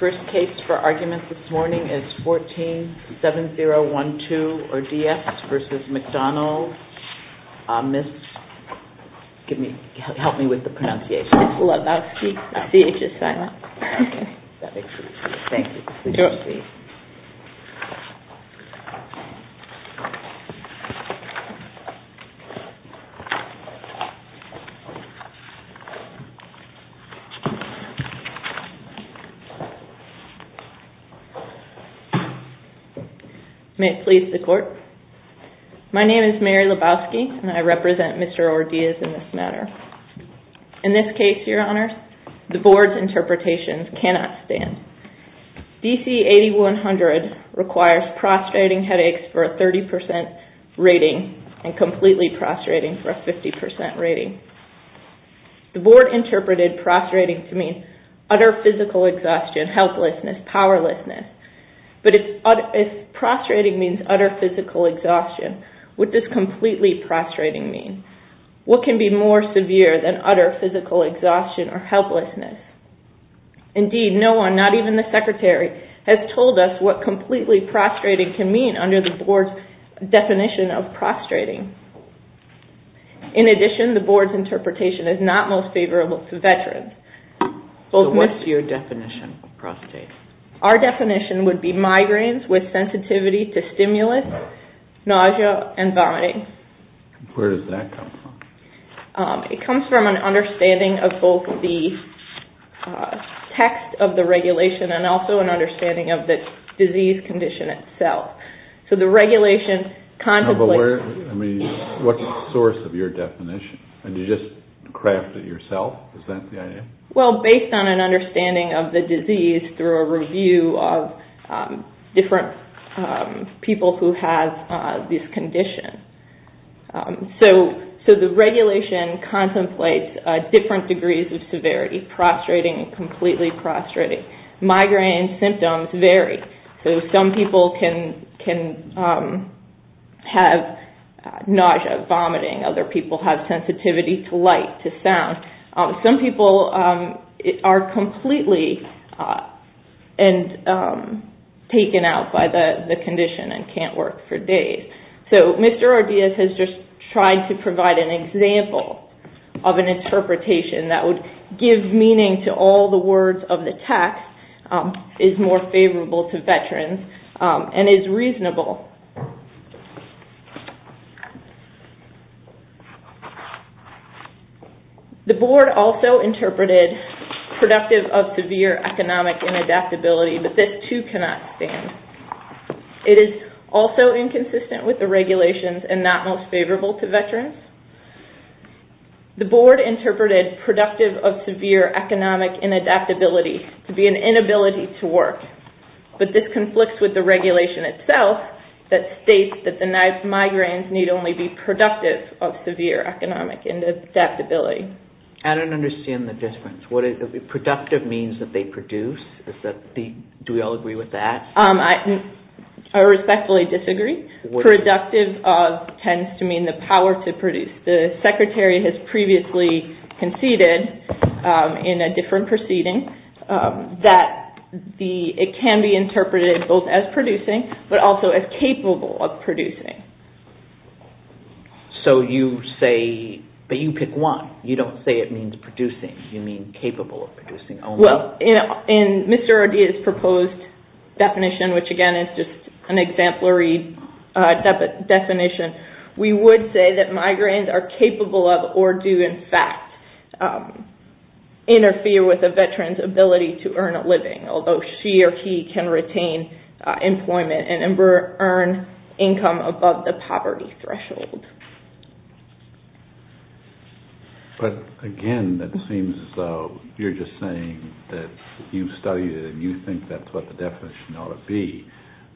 First case for argument this morning is 14-7012 or D.S. v. McDonald, Ms. Lavowski. May it please the court, my name is Mary Lavowski and I represent Mr. Ordillas in this matter. In this case, your honors, the board's interpretation cannot stand. DC-8100 requires prostrating headaches for a 30% rating and completely prostrating for a 50% rating. The board interpreted prostrating to mean utter physical exhaustion, helplessness, powerlessness. But if prostrating means utter physical exhaustion, what does completely prostrating mean? What can be more severe than utter physical exhaustion or helplessness? Indeed, no one, not even the secretary, has under the board's definition of prostrating. In addition, the board's interpretation is not most favorable to veterans. So what's your definition of prostrating? Our definition would be migraines with sensitivity to stimulus, nausea, and vomiting. Where does that come from? It comes from an understanding of both the text of the regulation and also an understanding of the disease condition itself. So the regulation contemplates... What's the source of your definition? Did you just craft it yourself? Is that the idea? Well, based on an understanding of the disease through a review of different people who have this condition. So the regulation contemplates different degrees of severity, prostrating and completely prostrating. Migraine symptoms vary. So some people can have nausea, vomiting. Other people have sensitivity to light, to sound. Some people are completely taken out by the condition and can't work for days. So Mr. Ordeas has just tried to provide an example of an interpretation that gives meaning to all the words of the text, is more favorable to veterans, and is reasonable. The board also interpreted productive of severe economic inadaptability, but this too cannot stand. It is also inconsistent with the regulations and not most favorable to veterans. The board interpreted productive of severe economic inadaptability to be an inability to work, but this conflicts with the regulation itself that states that the migraines need only be productive of severe economic inadaptability. I don't understand the difference. Productive means that they produce? Do we all agree with that? I respectfully disagree. Productive tends to mean the power to produce. The secretary has previously conceded in a different proceeding that it can be interpreted both as producing, but also as capable of producing. So you say, but you pick one. You don't say it means producing. You mean capable of producing only? Well, in Mr. Ordeas' proposed definition, which again is just an exemplary definition, we would say that migraines are capable of, or do in fact, interfere with a veteran's ability to earn a living, although she or he can retain employment and earn income above the poverty threshold. But again, that seems as though you're just saying that you've studied it and you think that's what the definition ought to be,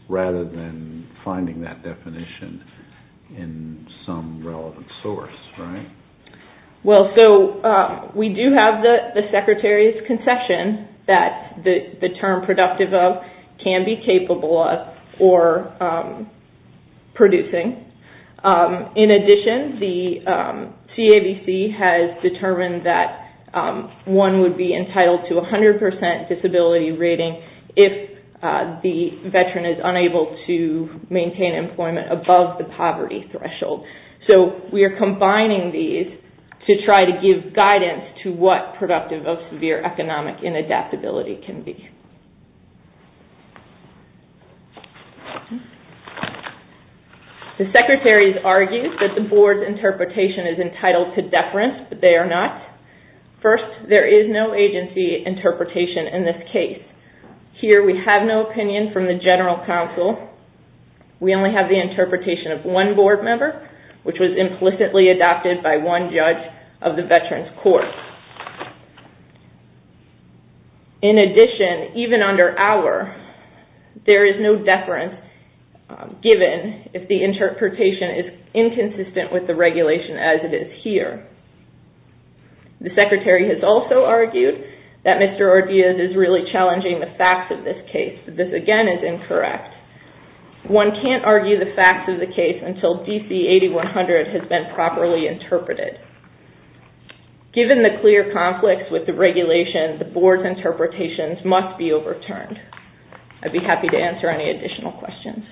rather than finding that definition in some relevant source, right? Well, so we do have the secretary's concession that the term productive of can be capable of producing. In addition, the CABC has determined that one would be entitled to 100% disability rating if the veteran is unable to maintain employment above the poverty threshold. So we are combining these to try to give guidance to what productive of severe economic inadaptability can be. The secretary has argued that the board's interpretation is entitled to deference, but they are not. First, there is no agency interpretation in this case. Here we have no opinion from the general counsel. We only have the interpretation of one board member, which was implicitly adopted by one judge of the veteran's court. In addition, even under our, there is no deference given if the interpretation is inconsistent with the regulation as it is here. The secretary has also argued that Mr. Ordea's is really challenging the facts of this case. This again is incorrect. One can't argue the facts of the case until DC 8100 has been properly interpreted. Given the clear conflicts with the regulation, the board's interpretations must be overturned. I'd be happy to answer any additional questions.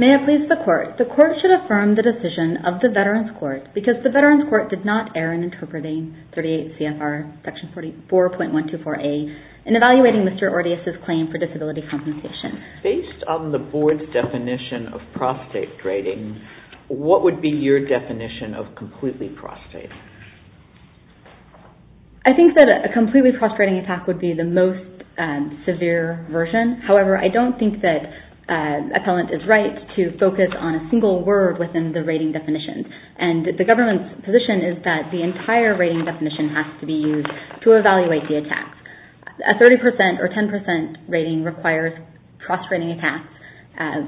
May I please the court? The court should affirm the decision of the veteran's court because the veteran's court did not err in interpreting 38 CFR section 44.124A and evaluating Mr. Ordea's claim for disability compensation. Based on the board's definition of prostate rating, what would be your definition of completely prostate? I think that a completely prostate rating attack would be the most severe version. However, I don't think that appellant is right to focus on a single word within the rating definition. The government's position is that the entire rating definition has to be used to evaluate the attacks. A 30% or 10% rating requires prostate rating attacks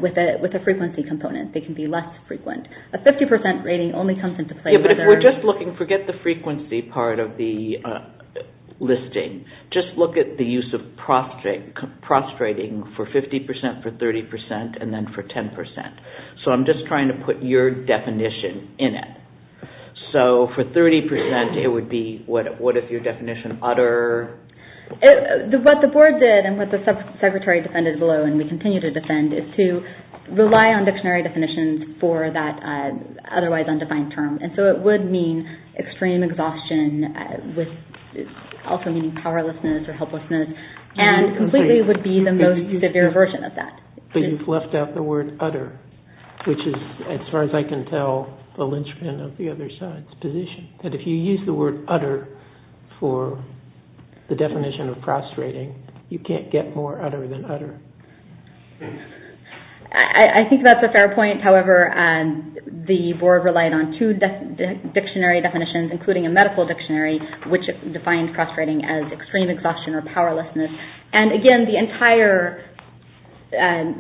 with a frequency component. They can be less frequent. A 50% rating only comes into play... If we're just looking, forget the frequency part of the listing. Just look at the use of prostrating for 50%, for 30%, and then for 10%. So I'm just trying to put your definition in it. So for 30% it would be, what is your definition, utter... What the board did and what the sub-secretary defended below and we continue to defend is to rely on dictionary definitions for that otherwise undefined term. So it would mean extreme exhaustion, also meaning powerlessness or helplessness, and completely would be the most severe version of that. But you've left out the word utter, which is, as far as I can tell, the linchpin of the other side's position. That if you use the word utter for the definition of prostrating, you can't get more utter than utter. I think that's a fair point. However, the board relied on two dictionary definitions, including a medical dictionary, which defined prostrating as extreme exhaustion or powerlessness. And again, the entire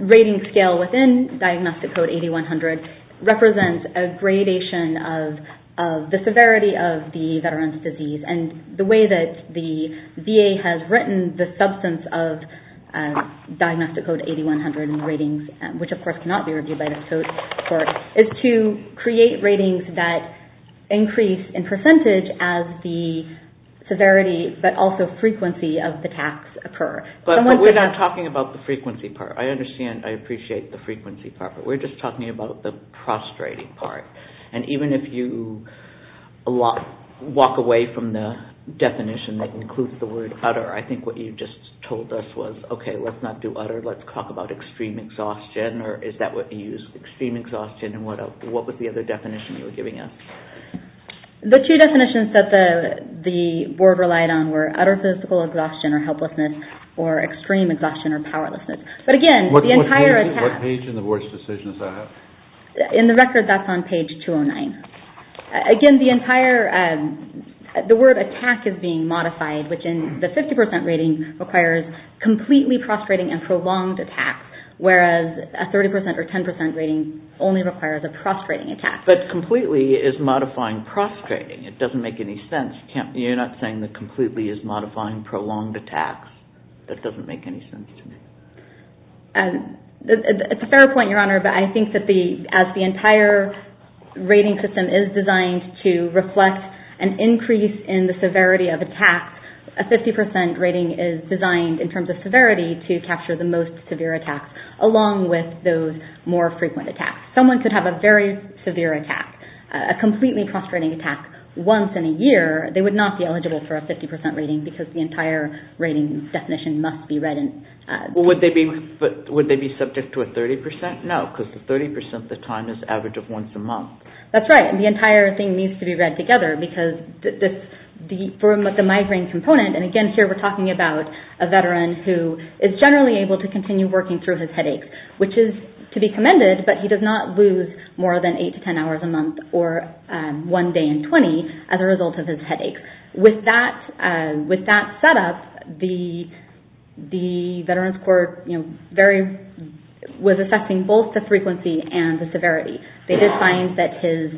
rating scale within Diagnostic Code 8100 represents a gradation of the severity of the veteran's disease. And the way that the VA has written the substance of Diagnostic Code 8100 ratings, which of course cannot be reviewed by the court, is to create ratings that increase in percentage as the severity, but also frequency of the tax occur. But we're not talking about the frequency part. I understand, I appreciate the frequency part, but we're just talking about the prostrating part. And even if you walk away from the definition that includes the word utter, I think what you just told us was, okay, let's not do utter, let's talk about extreme exhaustion, or is that what you use, extreme exhaustion, and what was the other definition you were giving us? The two definitions that the board relied on were utter physical exhaustion or helplessness, or extreme exhaustion or powerlessness. But again, the entire attack... What page in the board's decision does that have? In the record, that's on page 209. Again, the word attack is being modified, which in the 50% rating requires completely prostrating and prolonged attacks, whereas a 30% or 10% rating only requires a prostrating attack. But completely is modifying prostrating. It doesn't make any sense. You're not saying that completely is modifying prolonged attacks. That doesn't make any sense to me. It's a fair point, Your Honor, but I think that as the entire rating system is designed to reflect an increase in the severity of attacks, a 50% rating is designed in terms of severity to capture the most severe attacks, along with those more frequent attacks. Someone could have a very severe attack, a completely prostrating attack once in a year. They would not be eligible for a 50% rating because the entire rating definition must be read in... Would they be subject to a 30%? No, because the 30% of the time is average of once a month. That's right. The entire thing needs to be read together because for the migraine component, and again here we're talking about a veteran who is generally able to continue working through his headaches, which is to be commended, but he does not lose more than 8 to 10 hours a month or one day in 20 as a result of his headaches. With that set up, the Veterans Court was affecting both the frequency and the severity. They did find that his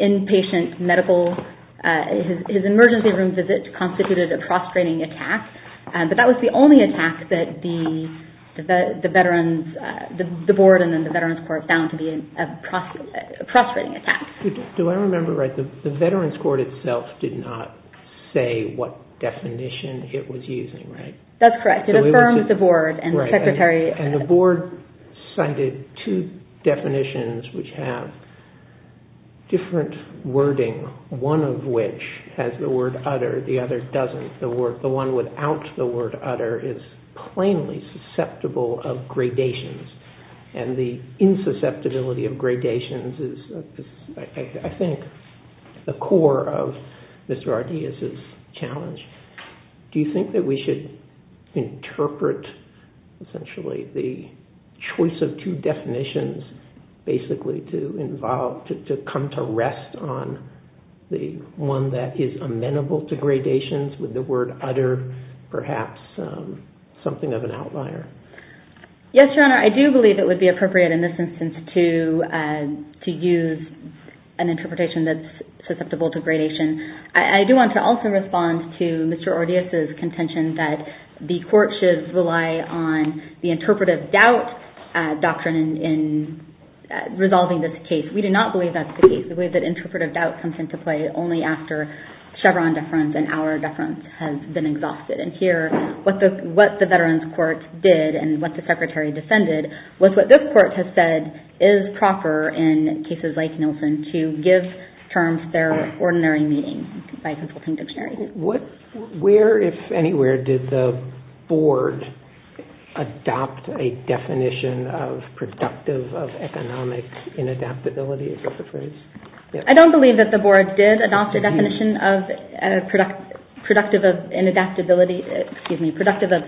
inpatient medical, his emergency room visit constituted a prostrating attack, but that was the only attack that the board and then the Veterans Court found to be a prostrating attack. Do I remember right, the Veterans Court itself did not say what definition it was using, right? That's correct. It affirms the board and the secretary... And the board cited two definitions which have different wording, one of which has the word utter, the other doesn't. The one without the word utter is plainly susceptible of gradations and the insusceptibility of gradations is, I think, the core of Mr. Ardeaz's challenge. Do you think that we should interpret, essentially, the choice of two definitions, basically, to come to rest on the one that is amenable to gradations with the word utter perhaps something of an outlier? Yes, Your Honor. I do believe it would be appropriate in this instance to use an interpretation that's susceptible to gradation. I do want to also respond to Mr. Ardeaz's contention that the court should rely on the interpretive doubt doctrine in resolving this case. We do not believe that's the case. The way that interpretive doubt comes into play only after Chevron deference and our deference has been exhausted. And here, what the veterans court did and what the secretary defended was what this court has said is proper in cases like Nilsen to give terms to their ordinary meeting by consulting dictionary. Where, if anywhere, did the board adopt a definition of productive of economics in adaptability, I suppose? I don't believe that the board did adopt a definition of productive of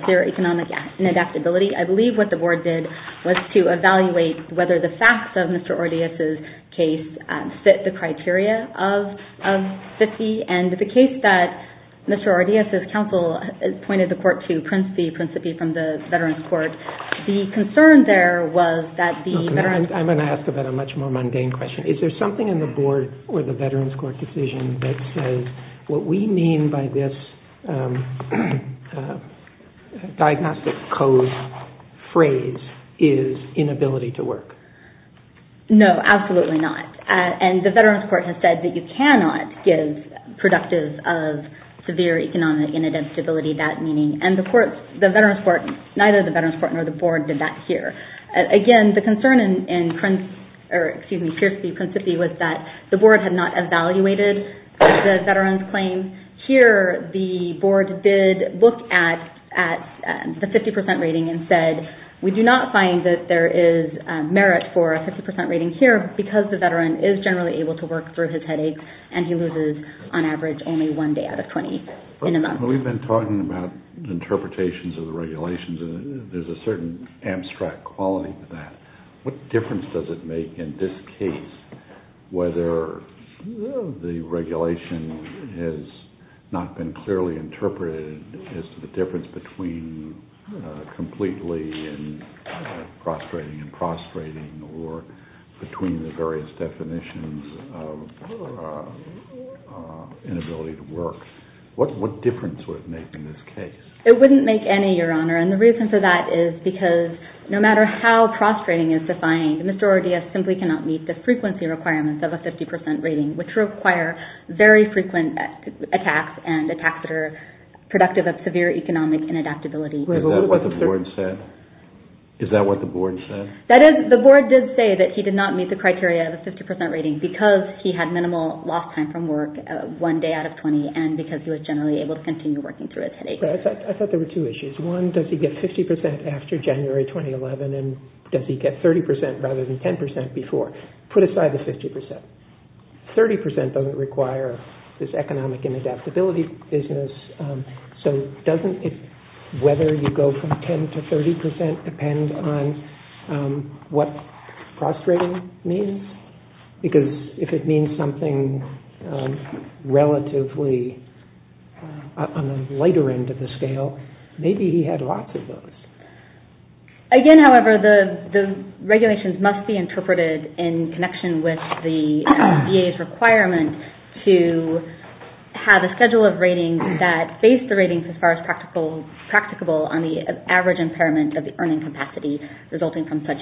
economic adaptability. I believe what the board did was to evaluate whether the facts of Mr. Ardeaz's case fit the criteria of 50. And the case that Mr. Ardeaz's counsel pointed the court to principally from the veterans court, the concern there was that the veterans court... I'm going to ask about a much more mundane question. Is there something in the board or the veterans court decision that says what we mean by this diagnostic code phrase is inability to work? No, absolutely not. And the veterans court has said that you cannot give productive of severe economic in adaptability that meaning. And the court, the veterans court, neither the veterans court nor the board did that here. Again, the concern in Prince, or excuse me, Pierce v. Principi was that the board had not evaluated the veterans claim. Here, the board did look at the 50% rating and said, we do not find that there is merit for a 50% rating here because the veteran is generally able to work through his headaches and he loses, on average, only one day out of 20 in a month. We've been talking about interpretations of the regulations and there's a certain abstract quality to that. What difference does it make in this case whether the regulation has not been clearly interpreted as the difference between completely and prostrating and prostrating or between the various definitions of inability to work? What difference would it make in this case? It wouldn't make any, Your Honor, and the reason for that is because no matter how prostrating is defined, Mr. Ordea simply cannot meet the frequency requirements of a 50% rating, which require very frequent attacks and attacks that are productive of severe economic in adaptability. Is that what the board said? Is that what the board said? The board did say that he did not meet the criteria of a 50% rating because he had minimal lost time from work, one day out of 20, and because he was generally able to continue working through his headaches. I thought there were two issues. One, does he get 50% after January 2011 and does he get 30% rather than 10% before? Put aside the 50%. 30% doesn't require this economic in adaptability business, so doesn't whether you go from 10% to 30% depend on what prostrating means? Because if it means something relatively on a lighter end of the scale, maybe he had lots of those. Again, however, the regulations must be interpreted in connection with the VA's requirement to have a schedule of ratings that face the ratings as far as practicable on the average impairment of the earning capacity resulting from such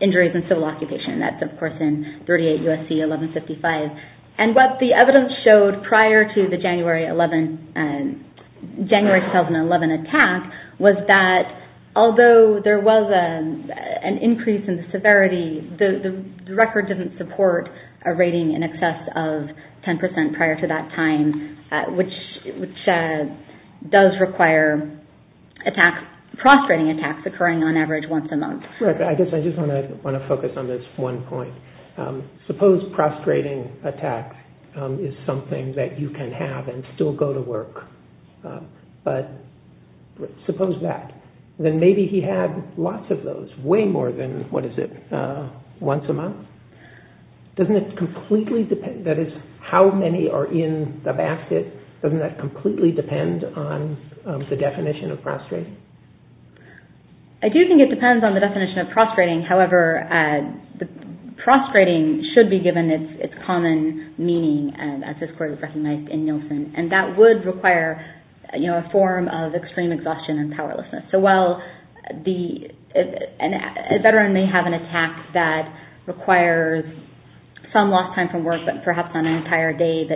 injuries in civil occupation. That's, of course, in 38 U.S.C. 1155. What the evidence showed prior to the January 2011 attack was that although there was an increase in the severity, the record didn't support a rating in excess of 10% prior to that time, which does require prostrating attacks occurring on average once a month. I guess I just want to focus on this one point. Suppose prostrating attacks is something that you can have and still go to work, but suppose that. Then maybe he had lots of those, way more than, what is it, once a month. Doesn't it completely depend, that is, how many are in the basket, doesn't that completely depend on the definition of prostrating? I do think it depends on the definition of prostrating. However, prostrating should be given its common meaning, as this court has recognized in Nielsen. That would require a form of extreme exhaustion and powerlessness. A veteran may have an attack that requires some lost time from work, but perhaps not an entire day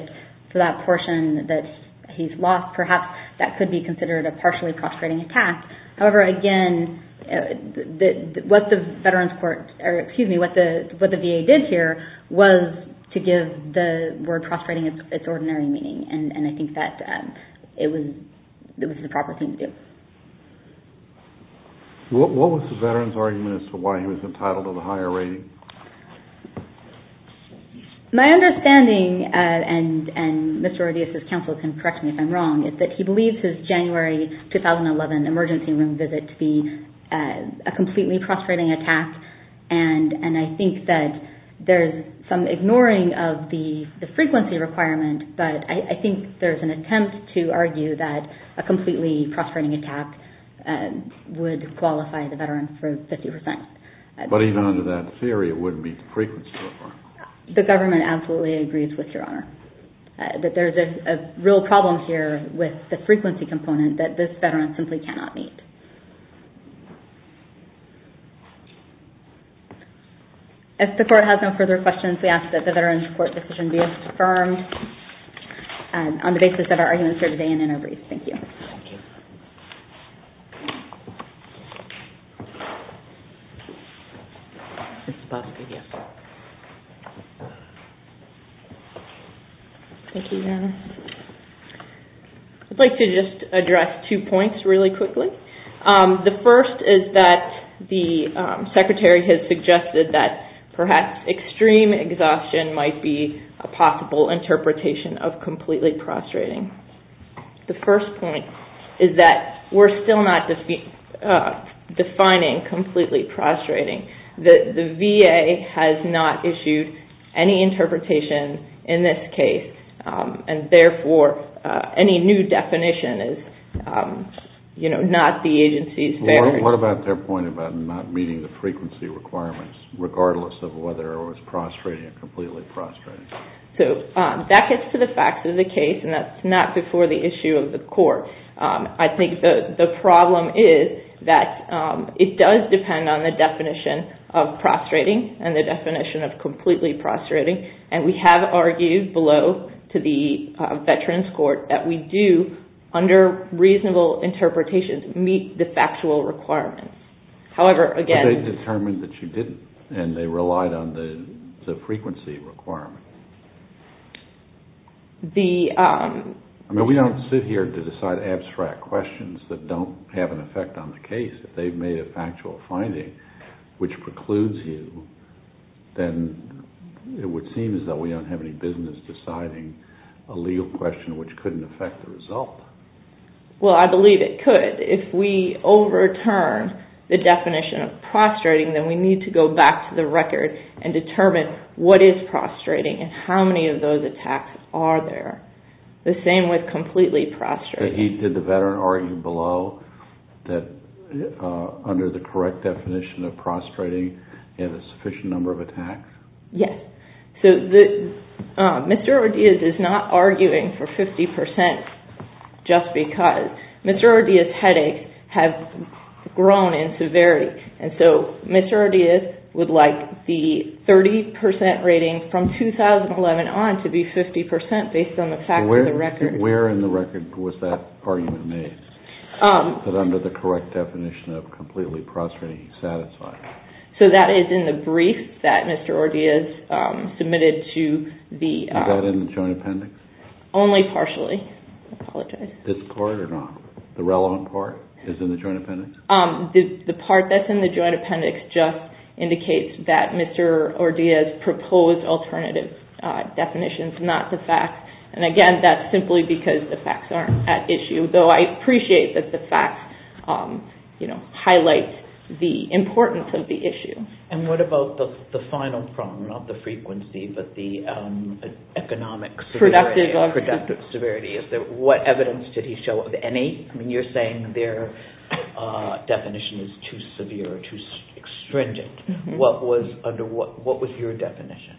for that portion that he's lost. Perhaps that could be considered a partially prostrating attack. However, again, what the VA did here was to give the word prostrating its ordinary meaning, and I think that it was the proper thing to do. What was the veteran's argument as to why he was entitled to the higher rating? My understanding, and Mr. Ordeas' counsel can correct me if I'm wrong, is that he believes his January 2011 emergency room visit to be a completely prostrating attack, and I think that there's some ignoring of the frequency requirement, but I think there's an attempt to argue that a completely prostrating attack would qualify the veteran for 50%. But even under that theory, it wouldn't meet the frequency requirement. The government absolutely agrees with Your Honor, that there's a real problem here with the frequency component that this veteran simply cannot meet. If the court has no further questions, we ask that the veteran's court decision be affirmed on the basis of our arguments here today and in our brief. Thank you. Thank you. Thank you, Your Honor. I'd like to just address two points really quickly. The first is that the Secretary has suggested that perhaps extreme exhaustion might be a possible interpretation of completely prostrating. The first point is that we're still not defining completely prostrating. The VA has not issued any interpretation in this case, and therefore, any new definition is not the agency's fair. What about their point about not meeting the frequency requirements, regardless of whether it was prostrating or completely prostrating? That gets to the facts of the case, and that's not before the issue of the court. I think the problem is that it does depend on the definition of prostrating and the definition of completely prostrating, and we have argued below to the veteran's court that we do, under reasonable interpretations, meet the factual requirements. But they determined that you didn't, and they relied on the frequency requirements. I mean, we don't sit here to decide abstract questions that don't have an effect on the case. If they've made a factual finding which precludes you, then it would seem as though we don't have any business deciding a legal question which couldn't affect the result. Well, I believe it could. If we overturn the definition of prostrating, then we need to go back to the record and determine what is prostrating and how many of those attacks are there. The same with completely prostrating. Did the veteran argue below that under the correct definition of prostrating, you have a sufficient number of attacks? Yes. Mr. Ordeas is not arguing for 50% just because. Mr. Ordeas' headaches have grown in severity, and so Mr. Ordeas would like the 30% rating from 2011 on to be 50% based on the fact of the record. Where in the record was that argument made, that under the correct definition of completely prostrating, he's satisfied? That is in the brief that Mr. Ordeas submitted to the… Is that in the joint appendix? Only partially. I apologize. This part or not? The relevant part is in the joint appendix? The part that's in the joint appendix just indicates that Mr. Ordeas proposed alternative definitions, not the facts. And what about the final problem, not the frequency, but the economic… Productive severity. Productive severity. What evidence did he show of any? You're saying their definition is too severe, too stringent. What was your definition?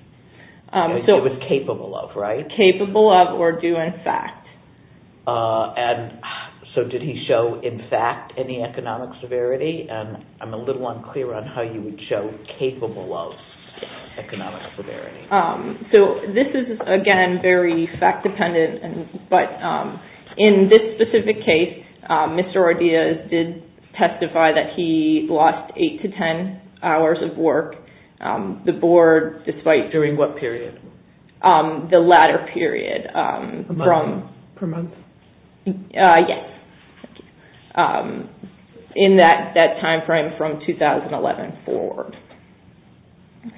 It was capable of, right? Capable of or due in fact. And so did he show in fact any economic severity? And I'm a little unclear on how you would show capable of economic severity. So this is, again, very fact dependent, but in this specific case, Mr. Ordeas did testify that he lost 8 to 10 hours of work. The board, despite… During what period? The latter period. A month? Per month? Yes. In that timeframe from 2011 forward.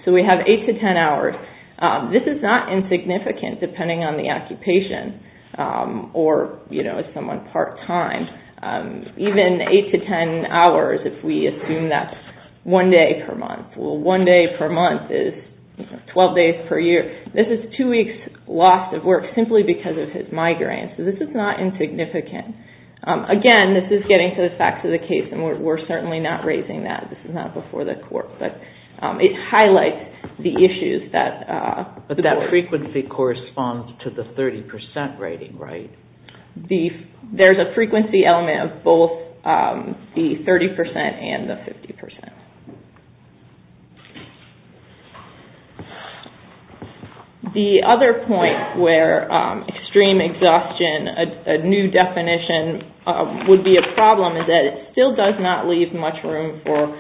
So we have 8 to 10 hours. This is not insignificant depending on the occupation or, you know, as someone part-time. Even 8 to 10 hours if we assume that's one day per month. Well, one day per month is 12 days per year. This is two weeks' loss of work simply because of his migraine. So this is not insignificant. Again, this is getting to the facts of the case and we're certainly not raising that. This is not before the court. But it highlights the issues that… But that frequency corresponds to the 30% rating, right? There's a frequency element of both the 30% and the 50%. The other point where extreme exhaustion, a new definition, would be a problem is that it still does not leave much room for…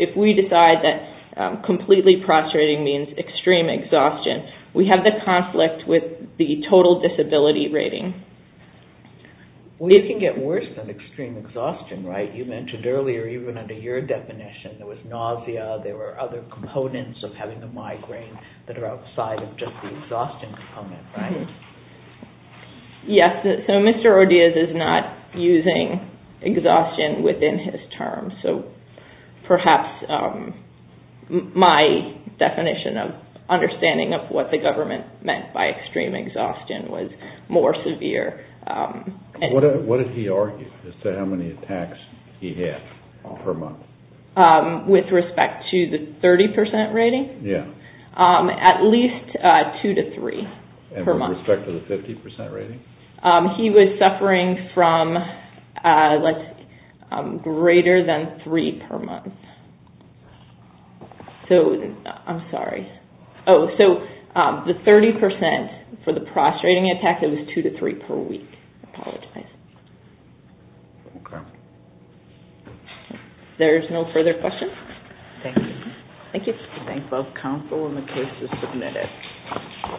If we decide that completely prostrating means extreme exhaustion, we have the conflict with the total disability rating. Well, it can get worse than extreme exhaustion, right? You mentioned earlier, even under your definition, there was nausea, there were other components of having a migraine that are outside of just the exhaustion component, right? Yes, so Mr. Odias is not using exhaustion within his terms. So perhaps my definition of understanding of what the government meant by extreme exhaustion was more severe. What did he argue as to how many attacks he had per month? With respect to the 30% rating? At least two to three per month. With respect to the 50% rating? He was suffering from greater than three per month. So, I'm sorry. Oh, so the 30% for the prostrating attack, it was two to three per week. There's no further questions? Thank you. Thank you. I thank both counsel and the case is submitted.